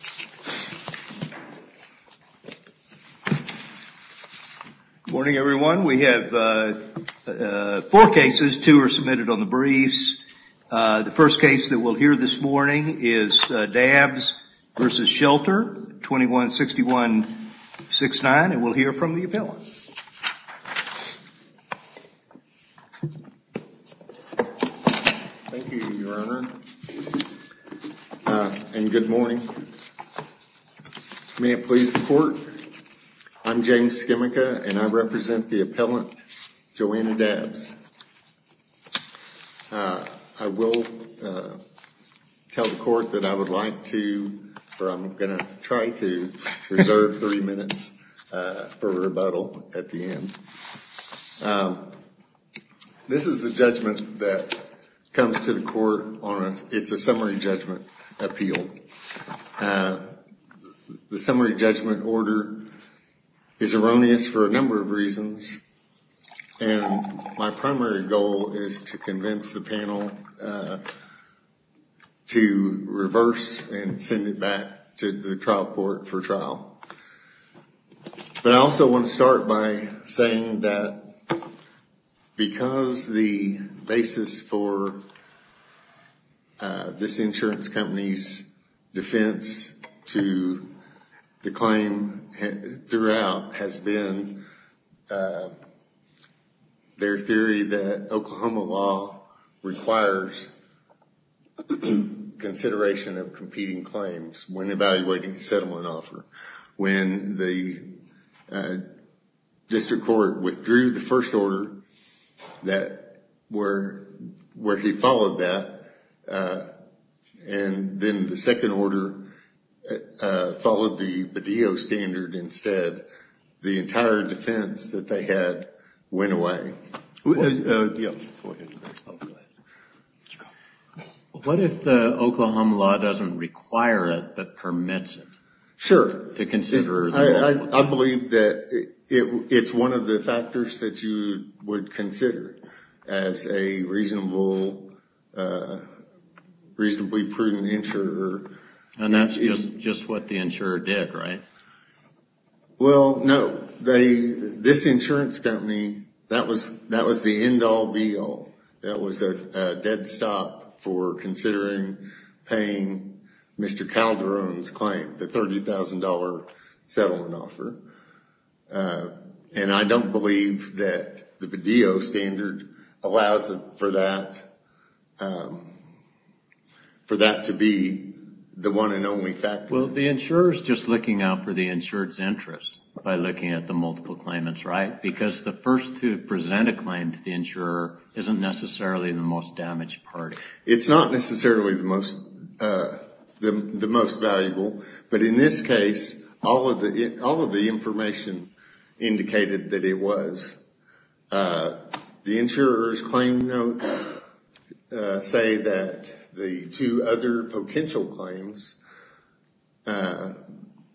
Good morning, everyone. We have four cases, two are submitted on the briefs. The first case that we'll hear this morning is Dabbs v. Shelter, 21-6169, and we'll hear from the appellant. Thank you, Your Honor. And good morning. May it please the Court, I'm James Skimica, and I represent the appellant, Joanna Dabbs. I will tell the Court that I would like to, or I'm going to try to, reserve three minutes for rebuttal at the end. This is a judgment that comes to the Court on a, it's a summary judgment appeal. The summary judgment order is erroneous for a number of reasons, and my primary goal is to convince the panel to reverse and send it back to the trial court for trial. But I also want to start by saying that because the basis for this insurance company's defense to the claim throughout has been their theory that Oklahoma law requires consideration of When the district court withdrew the first order where he followed that, and then the second order followed the Badeo standard instead, the entire defense that they had went away. What if the Oklahoma law doesn't require it but permits it? Sure. I believe that it's one of the factors that you would consider as a reasonably prudent insurer. And that's just what the insurer did, right? Well, no. This insurance company, that was the end all, be all. That was a dead stop for considering paying Mr. Calderon's claim, the $30,000 settlement offer. And I don't believe that the Badeo standard allows for that to be the one and only factor. Well, the insurer's just looking out for the insured's interest by looking at the multiple claimants, right? Because the first to present a claim to the insurer isn't necessarily the most damaged part. It's not necessarily the most valuable, but in this case, all of the information indicated that it was. The insurer's claim notes say that the two other potential claims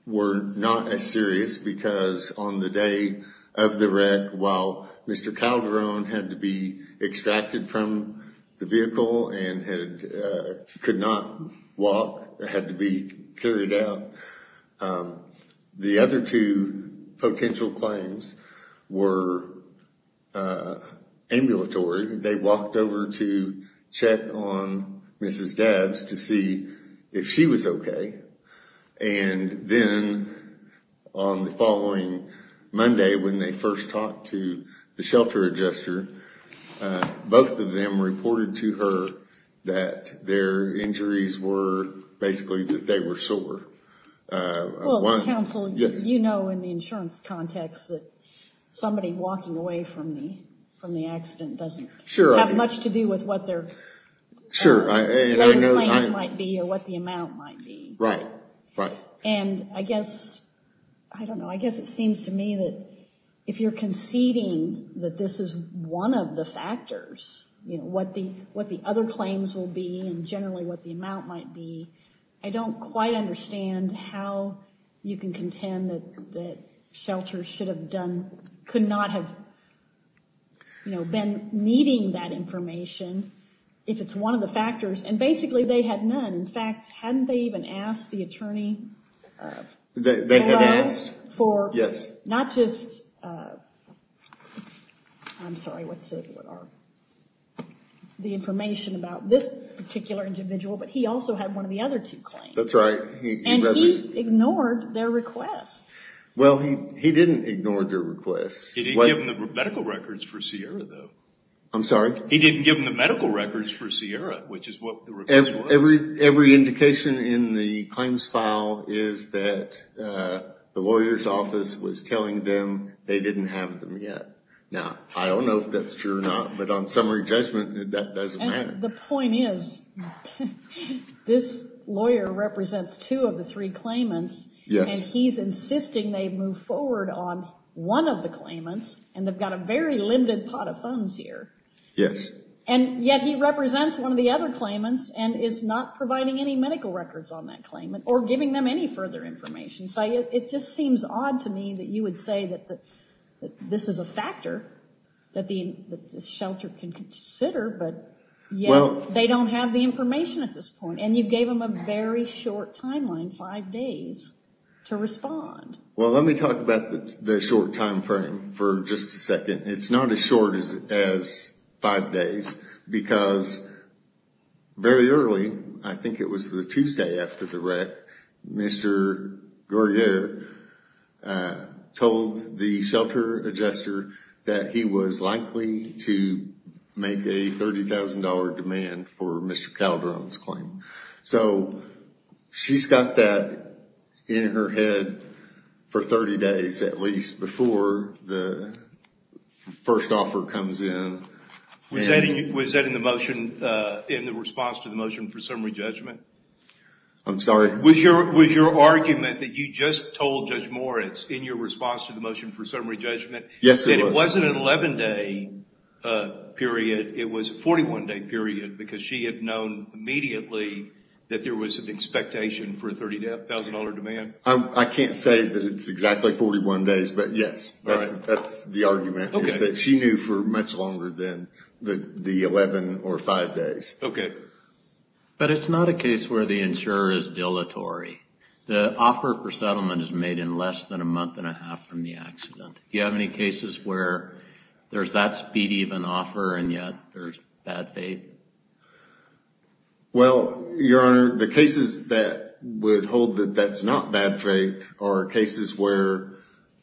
were not as serious because on the day of the wreck, while Mr. Calderon had to be extracted from the vehicle and could not walk, had to be carried out, the other two potential claims were ambulatory. They walked over to check on Mrs. Dabbs to see if she was okay. And then on the following Monday, when they first talked to the shelter adjuster, both of them reported to her that their injuries were, basically, that they were sore. Well, counsel, you know in the insurance context that somebody walking away from the accident doesn't have much to do with what their claims might be or what the amount might be. Right, right. And I guess, I don't know, I guess it seems to me that if you're conceding that this is one of the factors, you know, what the other claims will be and generally what the amount might be, I don't quite understand how you can contend that shelters should have done, could not have, you know, been needing that information if it's one of the factors. And basically, they had none. In fact, hadn't they even asked the attorney for, not just, I'm sorry, what's the information about this particular individual, but he also had one of the other two claims. That's right. And he ignored their request. Well, he didn't ignore their request. He didn't give them the medical records for Sierra, though. I'm sorry? He didn't give them the medical records for Sierra, which is what the request was. Every indication in the claims file is that the lawyer's office was telling them they didn't have them yet. Now, I don't know if that's true or not, but on summary judgment, that doesn't matter. The point is, this lawyer represents two of the three claimants, and he's insisting they move forward on one of the claimants, and they've got a very limited pot of funds here. Yes. And yet, he represents one of the other claimants and is not providing any medical records on that claimant or giving them any further information. So, it just seems odd to me that you would say that this is a factor that the shelter can consider, but yet, they don't have the information at this point. And you gave them a very short timeline, five days, to respond. Well, let me talk about the short time frame for just a second. It's not as short as five days, because very early, I think it was the Tuesday after the wreck, Mr. Guerriere told the shelter adjuster that he was likely to make a $30,000 demand for Mr. Calderon's claim. So, she's got that in her head for 30 days, at least, before the first offer comes in. Was that in the motion, in the response to the motion for summary judgment? I'm sorry? Was your argument that you just told Judge Moritz in your response to the motion for summary judgment? Yes, it was. It wasn't an 11-day period. It was a 41-day period, because she had known immediately that there was an expectation for a $30,000 demand? I can't say that it's exactly 41 days, but yes, that's the argument, is that she knew for much longer than the 11 or five days. Okay. But it's not a case where the insurer is dilatory. The offer for settlement is made in less than a month and a half from the accident. Do you have any cases where there's that speedy of an offer and yet there's bad faith? Well, Your Honor, the cases that would hold that that's not bad faith are cases where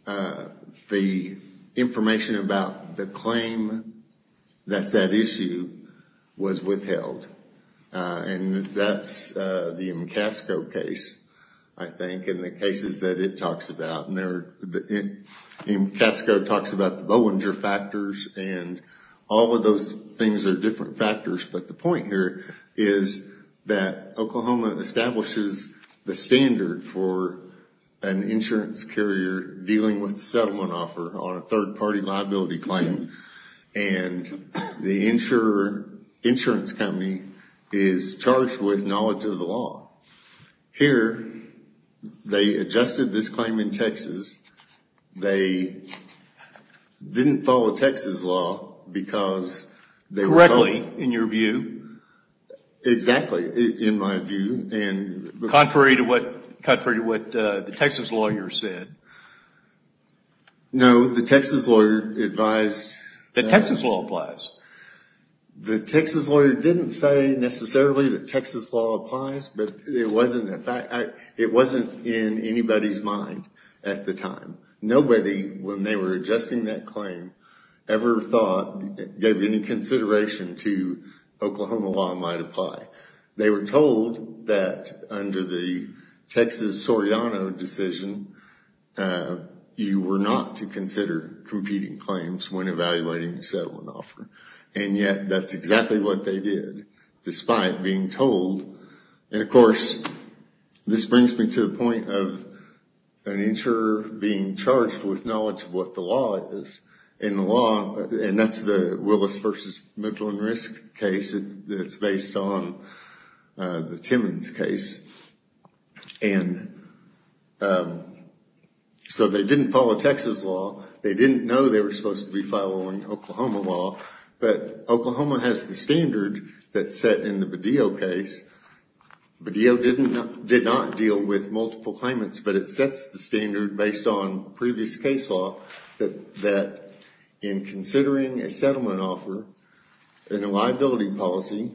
the information about the claim that's at issue was withheld. And that's the MCASCO case, I think, and the cases that it talks about. And MCASCO talks about the Bollinger factors, and all of those things are different factors. But the point here is that Oklahoma establishes the standard for an insurance carrier dealing with a settlement offer on a third-party liability claim. And the insurance company is charged with knowledge of the law. Here, they adjusted this claim in Texas. They didn't follow Texas law because they were- Correctly, in your view. Exactly, in my view. Contrary to what the Texas lawyer said. No, the Texas lawyer advised- That Texas law applies. The Texas lawyer didn't say necessarily that Texas law applies, but it wasn't in anybody's mind at the time. Nobody, when they were adjusting that claim, ever thought, gave any consideration to Oklahoma law might apply. They were told that under the Texas Soriano decision, you were not to consider competing claims when evaluating a settlement offer. And yet, that's exactly what they did, despite being told. And of course, this brings me to the point of an insurer being charged with knowledge of what the law is. In the law, and that's the Willis v. Midland Risk case that's based on the Timmons case. And so, they didn't follow Texas law. They didn't know they were supposed to be following Oklahoma law. But Oklahoma has the standard that's set in the Badillo case. Badillo did not deal with multiple claimants, but it sets the standard based on previous case law that in considering a settlement offer in a liability policy,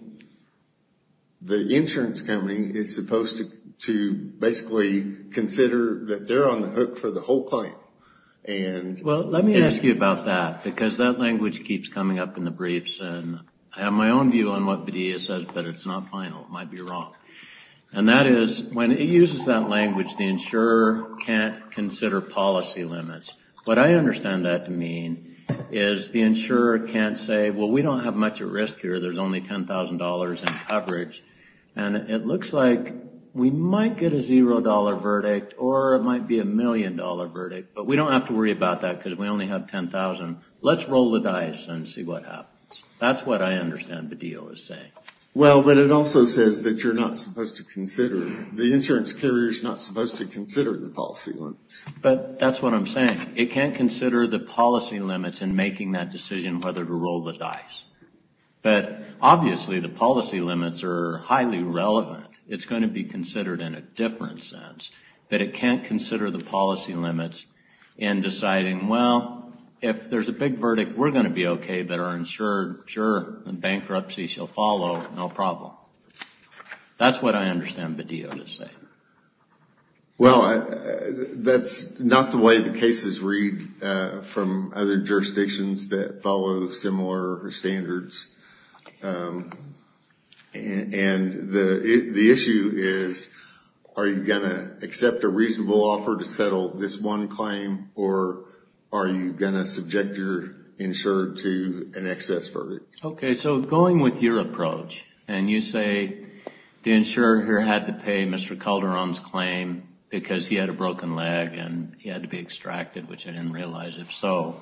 the insurance company is supposed to basically consider that they're on the hook for the whole claim. And- Well, let me ask you about that, because that language keeps coming up in the briefs. And I have my own view on what Badillo says, but it's not final. It might be wrong. And that is, when it uses that language, the insurer can't consider policy limits. What I understand that to mean is the insurer can't say, well, we don't have much at risk here. There's only $10,000 in coverage. And it looks like we might get a $0 verdict, or it might be a $1 million verdict. But we don't have to worry about that, because we only have $10,000. Let's roll the dice and see what happens. That's what I understand Badillo is saying. Well, but it also says that you're not supposed to consider, the insurance carrier's not supposed to consider the policy limits. But that's what I'm saying. It can't consider the policy limits in making that decision whether to roll the dice. But obviously, the policy limits are highly relevant. It's going to be considered in a different sense. But it can't consider the policy limits in deciding, well, if there's a big verdict, we're going to be okay, but our insurer, sure, bankruptcy shall follow, no problem. That's what I understand Badillo to say. Well, that's not the way the cases read from other jurisdictions that follow similar standards. And the issue is, are you going to accept a reasonable offer to settle this one claim, or are you going to subject your insurer to an excess verdict? Okay, so going with your approach, and you say, the insurer here had to pay Mr. Calderon's claim because he had a broken leg and he had to be extracted, which I didn't realize, if so.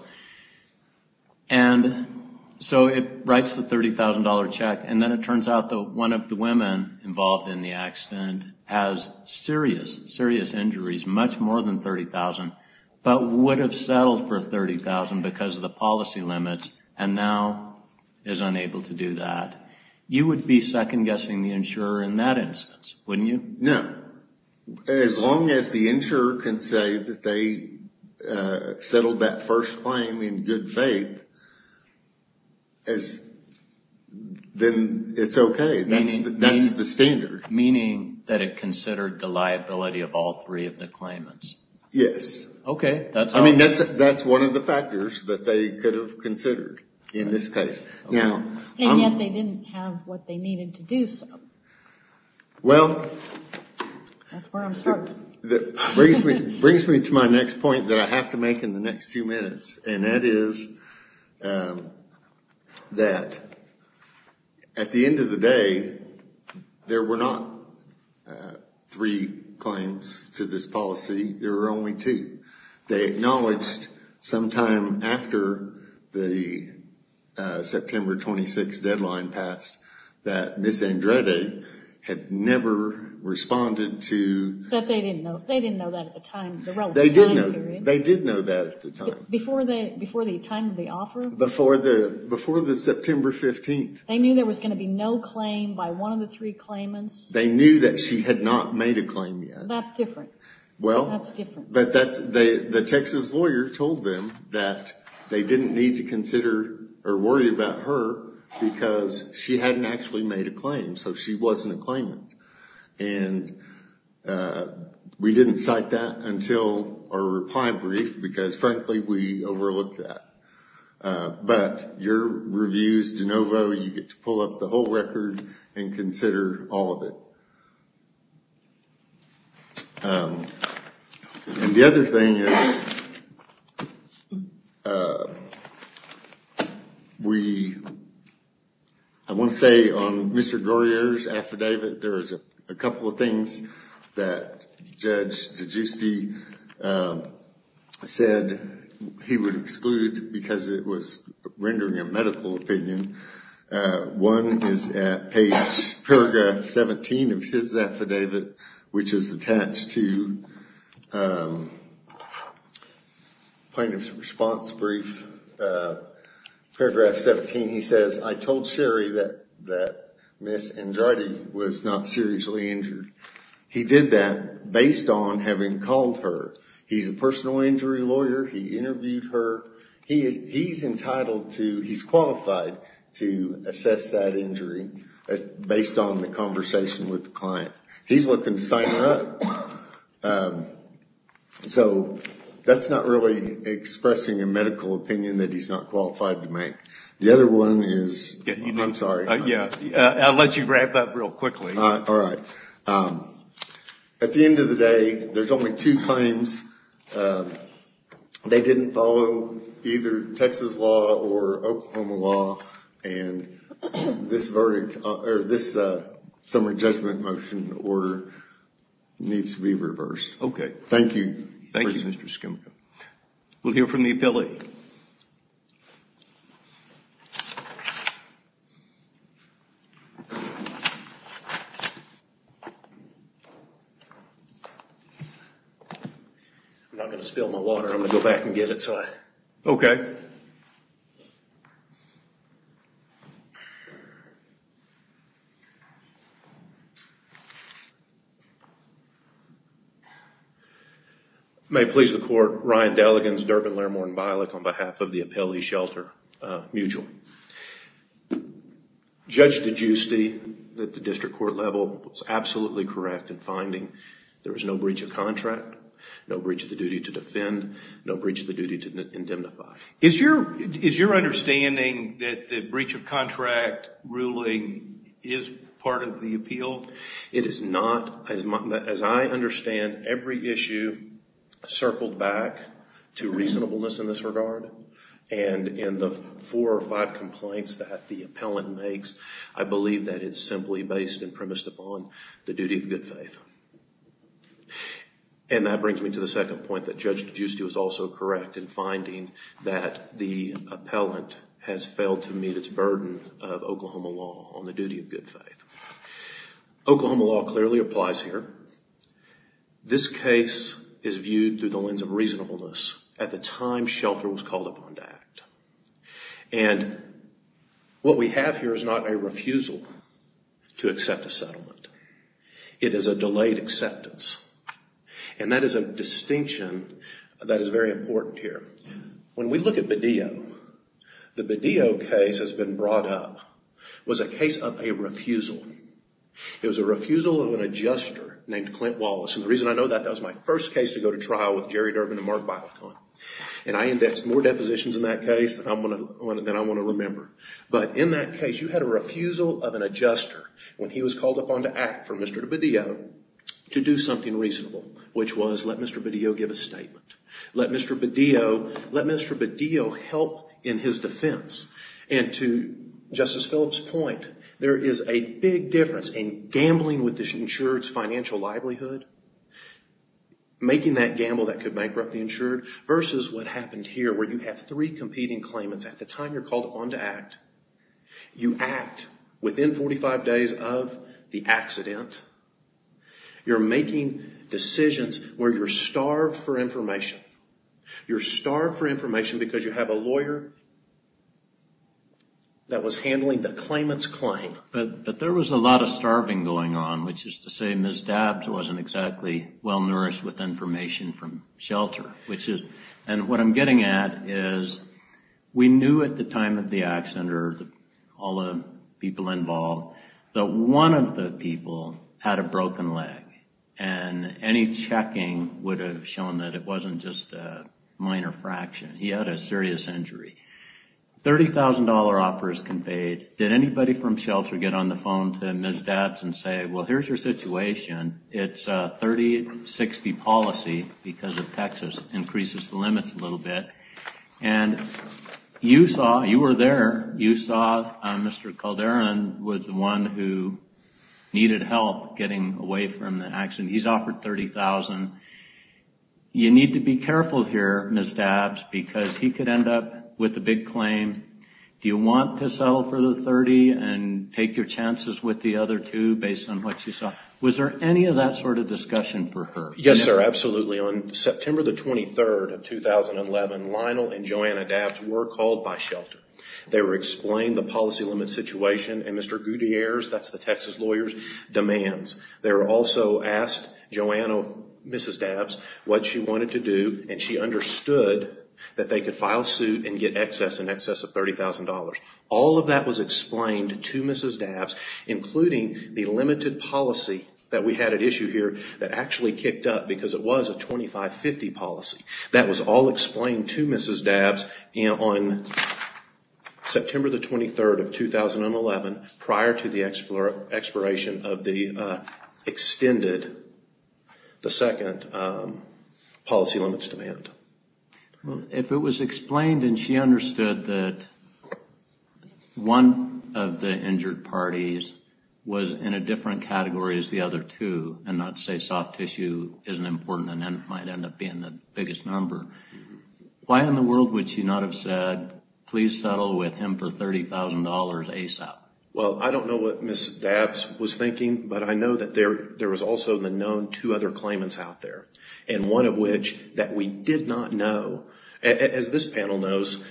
And so it writes the $30,000 check, and then it turns out that one of the women involved in the accident has serious, serious injuries, much more than $30,000, but would have settled for $30,000 because of the policy limits, and now is unable to do that. You would be second-guessing the insurer in that instance, wouldn't you? No. As long as the insurer can say that they settled that first claim in good faith, then it's okay, that's the standard. Meaning that it considered the liability of all three of the claimants. Yes. Okay. I mean, that's one of the factors that they could have considered in this case. And yet they didn't have what they needed to do so. Well, that brings me to my next point that I have to make in the next two minutes, and that is that at the end of the day, there were not three claims to this policy, there were only two. They acknowledged sometime after the September 26th deadline passed that Ms. Andrade had never responded to... That they didn't know. They didn't know that at the time, the relevant time period. They did know that at the time. Before the time of the offer? Before the September 15th. They knew there was going to be no claim by one of the three claimants? They knew that she had not made a claim yet. That's different. Well... That's different. The Texas lawyer told them that they didn't need to consider or worry about her because she hadn't actually made a claim, so she wasn't a claimant. And we didn't cite that until our reply brief because frankly, we overlooked that. But your reviews, DeNovo, you get to pull up the whole record and consider all of it. The other thing is, we... I want to say on Mr. Goyer's affidavit, there is a couple of things that Judge DeGiusti said he would exclude because it was rendering a medical opinion. One is at page, paragraph 17 of his affidavit, which is attached to plaintiff's response brief. Paragraph 17, he says, I told Sherry that Ms. Andrade was not seriously injured. He did that based on having called her. He's a personal injury lawyer. He interviewed her. He's entitled to... He's qualified to assess that injury based on the conversation with the client. He's looking to sign her up. So that's not really expressing a medical opinion that he's not qualified to make. The other one is... I'm sorry. Yeah, I'll let you grab that real quickly. All right. At the end of the day, there's only two claims. They didn't follow either Texas law or Oklahoma law, and this verdict, or this summary judgment motion order needs to be reversed. Okay. Thank you. Thank you, Mr. Skimka. We'll hear from the appellate. I'm not going to spill my water. I'm going to go back and get it. Okay. May it please the court, Ryan Delligans, Durbin, Larimore, and Bialik on behalf of the appellee shelter mutual. Judge DiGiusti, at the district court level, was absolutely correct in finding there was no breach of contract, no breach of the duty to defend, no breach of the duty to indemnify. Is your understanding that the breach of contract ruling is part of the appeal? It is not. As I understand, every issue circled back to reasonableness in this regard, and in the four or five complaints that the appellant makes, I believe that it's simply based and premised upon the duty of good faith. And that brings me to the second point that Judge DiGiusti was also correct in finding that the appellant has failed to meet its burden of Oklahoma law on the duty of good faith. Oklahoma law clearly applies here. This case is viewed through the lens of reasonableness at the time shelter was called upon to act. And what we have here is not a refusal to accept a settlement. It is a delayed acceptance. And that is a distinction that is very important here. When we look at Bedillo, the Bedillo case has been brought up, was a case of a refusal. It was a refusal of an adjuster named Clint Wallace. And the reason I know that, that was my first case to go to trial with Jerry Durbin and Mark Bialik on. And I indexed more depositions in that case than I want to remember. But in that case, you had a refusal of an adjuster when he was called upon to act for Mr. Bedillo to do something reasonable, which was let Mr. Bedillo give a statement. Let Mr. Bedillo help in his defense. And to Justice Phillips' point, there is a big difference in gambling with the insured's versus what happened here where you have three competing claimants. At the time you're called upon to act, you act within 45 days of the accident. You're making decisions where you're starved for information. You're starved for information because you have a lawyer that was handling the claimant's claim. But there was a lot of starving going on, which is to say Ms. Dabbs wasn't exactly well shelter. And what I'm getting at is we knew at the time of the accident or all the people involved that one of the people had a broken leg. And any checking would have shown that it wasn't just a minor fraction. He had a serious injury. $30,000 offer is conveyed. Did anybody from shelter get on the phone to Ms. Dabbs and say, well, here's your situation. It's a 30-60 policy because of Texas increases the limits a little bit. And you saw, you were there, you saw Mr. Calderon was the one who needed help getting away from the accident. He's offered $30,000. You need to be careful here, Ms. Dabbs, because he could end up with a big claim. Do you want to settle for the $30,000 and take your chances with the other two based on what you saw? Was there any of that sort of discussion for her? Yes, sir. Absolutely. On September the 23rd of 2011, Lionel and Joanna Dabbs were called by shelter. They were explained the policy limit situation and Mr. Gutierrez, that's the Texas lawyer's demands. They were also asked, Joanna, Mrs. Dabbs, what she wanted to do and she understood that they could file suit and get excess, in excess of $30,000. All of that was explained to Mrs. Dabbs, including the limited policy that we had at issue here that actually kicked up because it was a 25-50 policy. That was all explained to Mrs. Dabbs on September the 23rd of 2011, prior to the expiration of the extended, the second policy limits demand. If it was explained and she understood that one of the injured parties was in a different category as the other two, and not to say soft tissue isn't important and might end up being the biggest number, why in the world would she not have said, please settle with him for $30,000 ASAP? Well, I don't know what Mrs. Dabbs was thinking, but I know that there was also the known two other claimants out there, and one of which that we did not know. As this panel knows,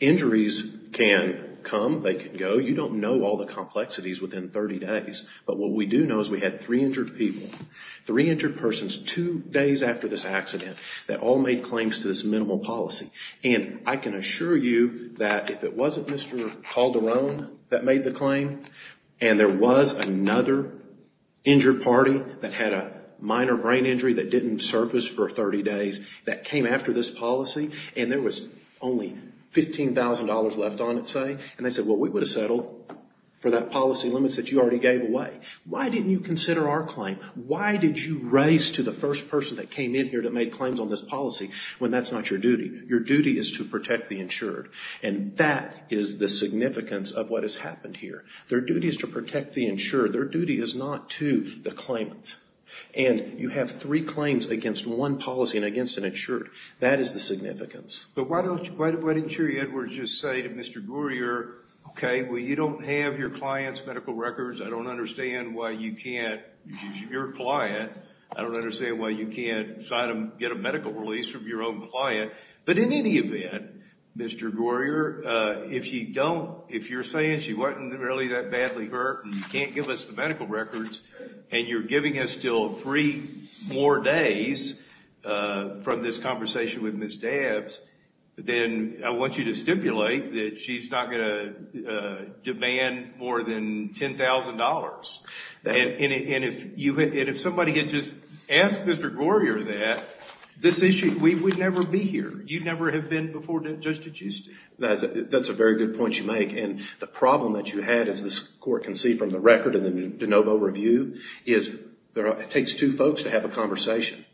injuries can come, they can go. You don't know all the complexities within 30 days, but what we do know is we had three injured people, three injured persons two days after this accident that all made claims to this minimal policy. I can assure you that if it wasn't Mr. Calderon that made the claim and there was another injured party that had a minor brain injury that didn't surface for 30 days that came after this policy, and there was only $15,000 left on it, say, and they said, well, we would have settled for that policy limits that you already gave away. Why didn't you consider our claim? Why did you race to the first person that came in here that made claims on this policy when that's not your duty? Your duty is to protect the insured, and that is the significance of what has happened here. Their duty is to protect the insured. Their duty is not to the claimant. And you have three claims against one policy and against an insured. That is the significance. But why don't you, why didn't you, Edwards, just say to Mr. Groyer, okay, well, you don't have your client's medical records. I don't understand why you can't, your client, I don't understand why you can't get a medical release from your own client, but in any event, Mr. Groyer, if you don't, if you're saying she wasn't really that badly hurt and you can't give us the medical records, and you're giving us still three more days from this conversation with Ms. Dabbs, then I want you to stipulate that she's not going to demand more than $10,000. And if somebody had just asked Mr. Groyer that, this issue, we would never be here. You'd never have been before Judge DiGiusti. That's a very good point you make. And the problem that you had, as this Court can see from the record in the de novo review, is it takes two folks to have a conversation.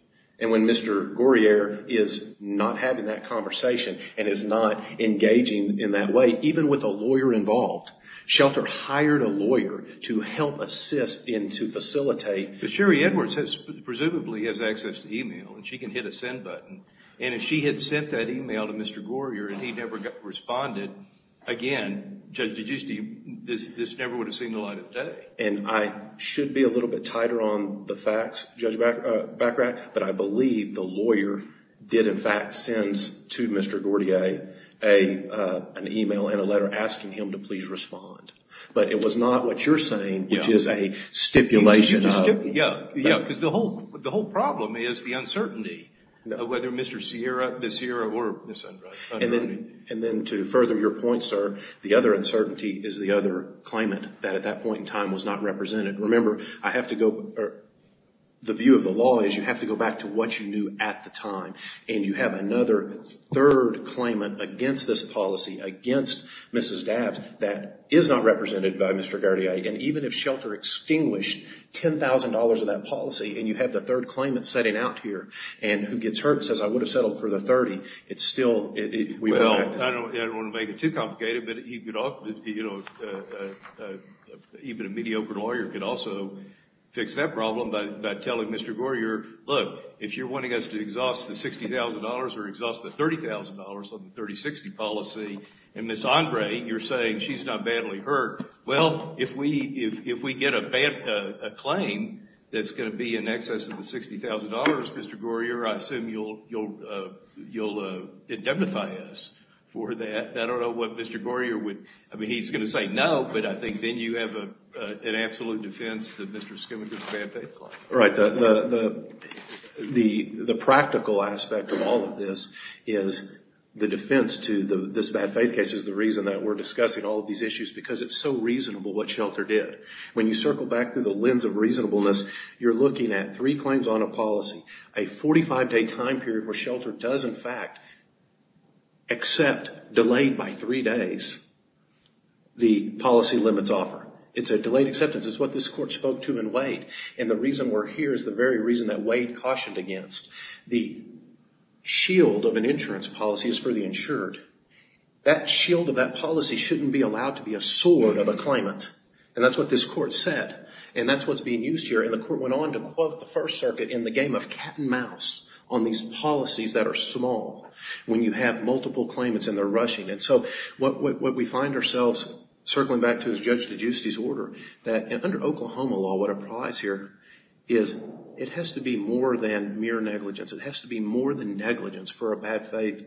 And when Mr. Groyer is not having that conversation and is not engaging in that way, even with a lawyer involved, Shelter hired a lawyer to help assist and to facilitate. Sherry Edwards presumably has access to email, and she can hit a send button, and if she had sent that email to Mr. Groyer and he never responded, again, Judge DiGiusti, this never would have seen the light of day. And I should be a little bit tighter on the facts, Judge Bacarach, but I believe the lawyer did in fact send to Mr. Groyer an email and a letter asking him to please respond. But it was not what you're saying, which is a stipulation of- Yeah, because the whole problem is the uncertainty of whether Mr. Sierra, Ms. Sierra, or Ms. Andrade- And then to further your point, sir, the other uncertainty is the other claimant that at that point in time was not represented. Remember, I have to go, the view of the law is you have to go back to what you knew at the time. And you have another third claimant against this policy, against Mrs. Dabbs, that is not $60,000 of that policy, and you have the third claimant setting out here, and who gets hurt and says, I would have settled for the $30,000. It's still- Well, I don't want to make it too complicated, but even a mediocre lawyer could also fix that problem by telling Mr. Groyer, look, if you're wanting us to exhaust the $60,000 or exhaust the $30,000 on the 30-60 policy, and Ms. Andrade, you're saying she's not Well, if we get a bad claim that's going to be in excess of the $60,000, Mr. Groyer, I assume you'll indemnify us for that. I don't know what Mr. Groyer would, I mean, he's going to say no, but I think then you have an absolute defense to Mr. Skimminger's bad faith claim. Right. The practical aspect of all of this is the defense to this bad faith case is the reason that we're discussing all of these issues, because it's so reasonable what Shelter did. When you circle back through the lens of reasonableness, you're looking at three claims on a policy, a 45-day time period where Shelter does, in fact, accept delayed by three days the policy limits offer. It's a delayed acceptance. It's what this court spoke to in Wade, and the reason we're here is the very reason that Wade cautioned against. The shield of an insurance policy is for the insured. That shield of that policy shouldn't be allowed to be a sword of a claimant, and that's what this court said, and that's what's being used here, and the court went on to quote the First Circuit in the game of cat and mouse on these policies that are small. When you have multiple claimants and they're rushing, and so what we find ourselves circling back to is Judge DiGiusti's order that under Oklahoma law, what applies here is it has to be more than mere negligence. It has to be more than negligence for a bad faith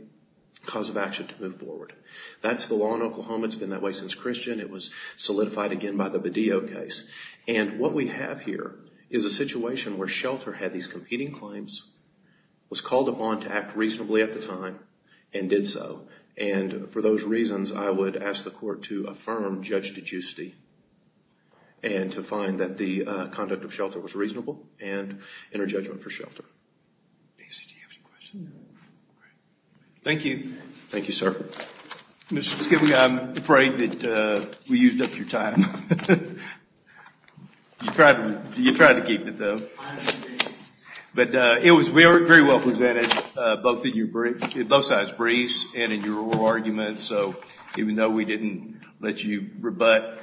cause of action to move forward. That's the law in Oklahoma. It's been that way since Christian. It was solidified again by the Badillo case, and what we have here is a situation where Shelter had these competing claims, was called upon to act reasonably at the time, and did so, and for those reasons, I would ask the court to affirm Judge DiGiusti and to find that the conduct of Shelter was reasonable and enter judgment for Shelter. Thank you. Thank you, sir. Mr. Skibbe, I'm afraid that we used up your time. You tried to keep it, though. But it was very well presented, both sides briefs and in your oral arguments, so even though we didn't let you rebut.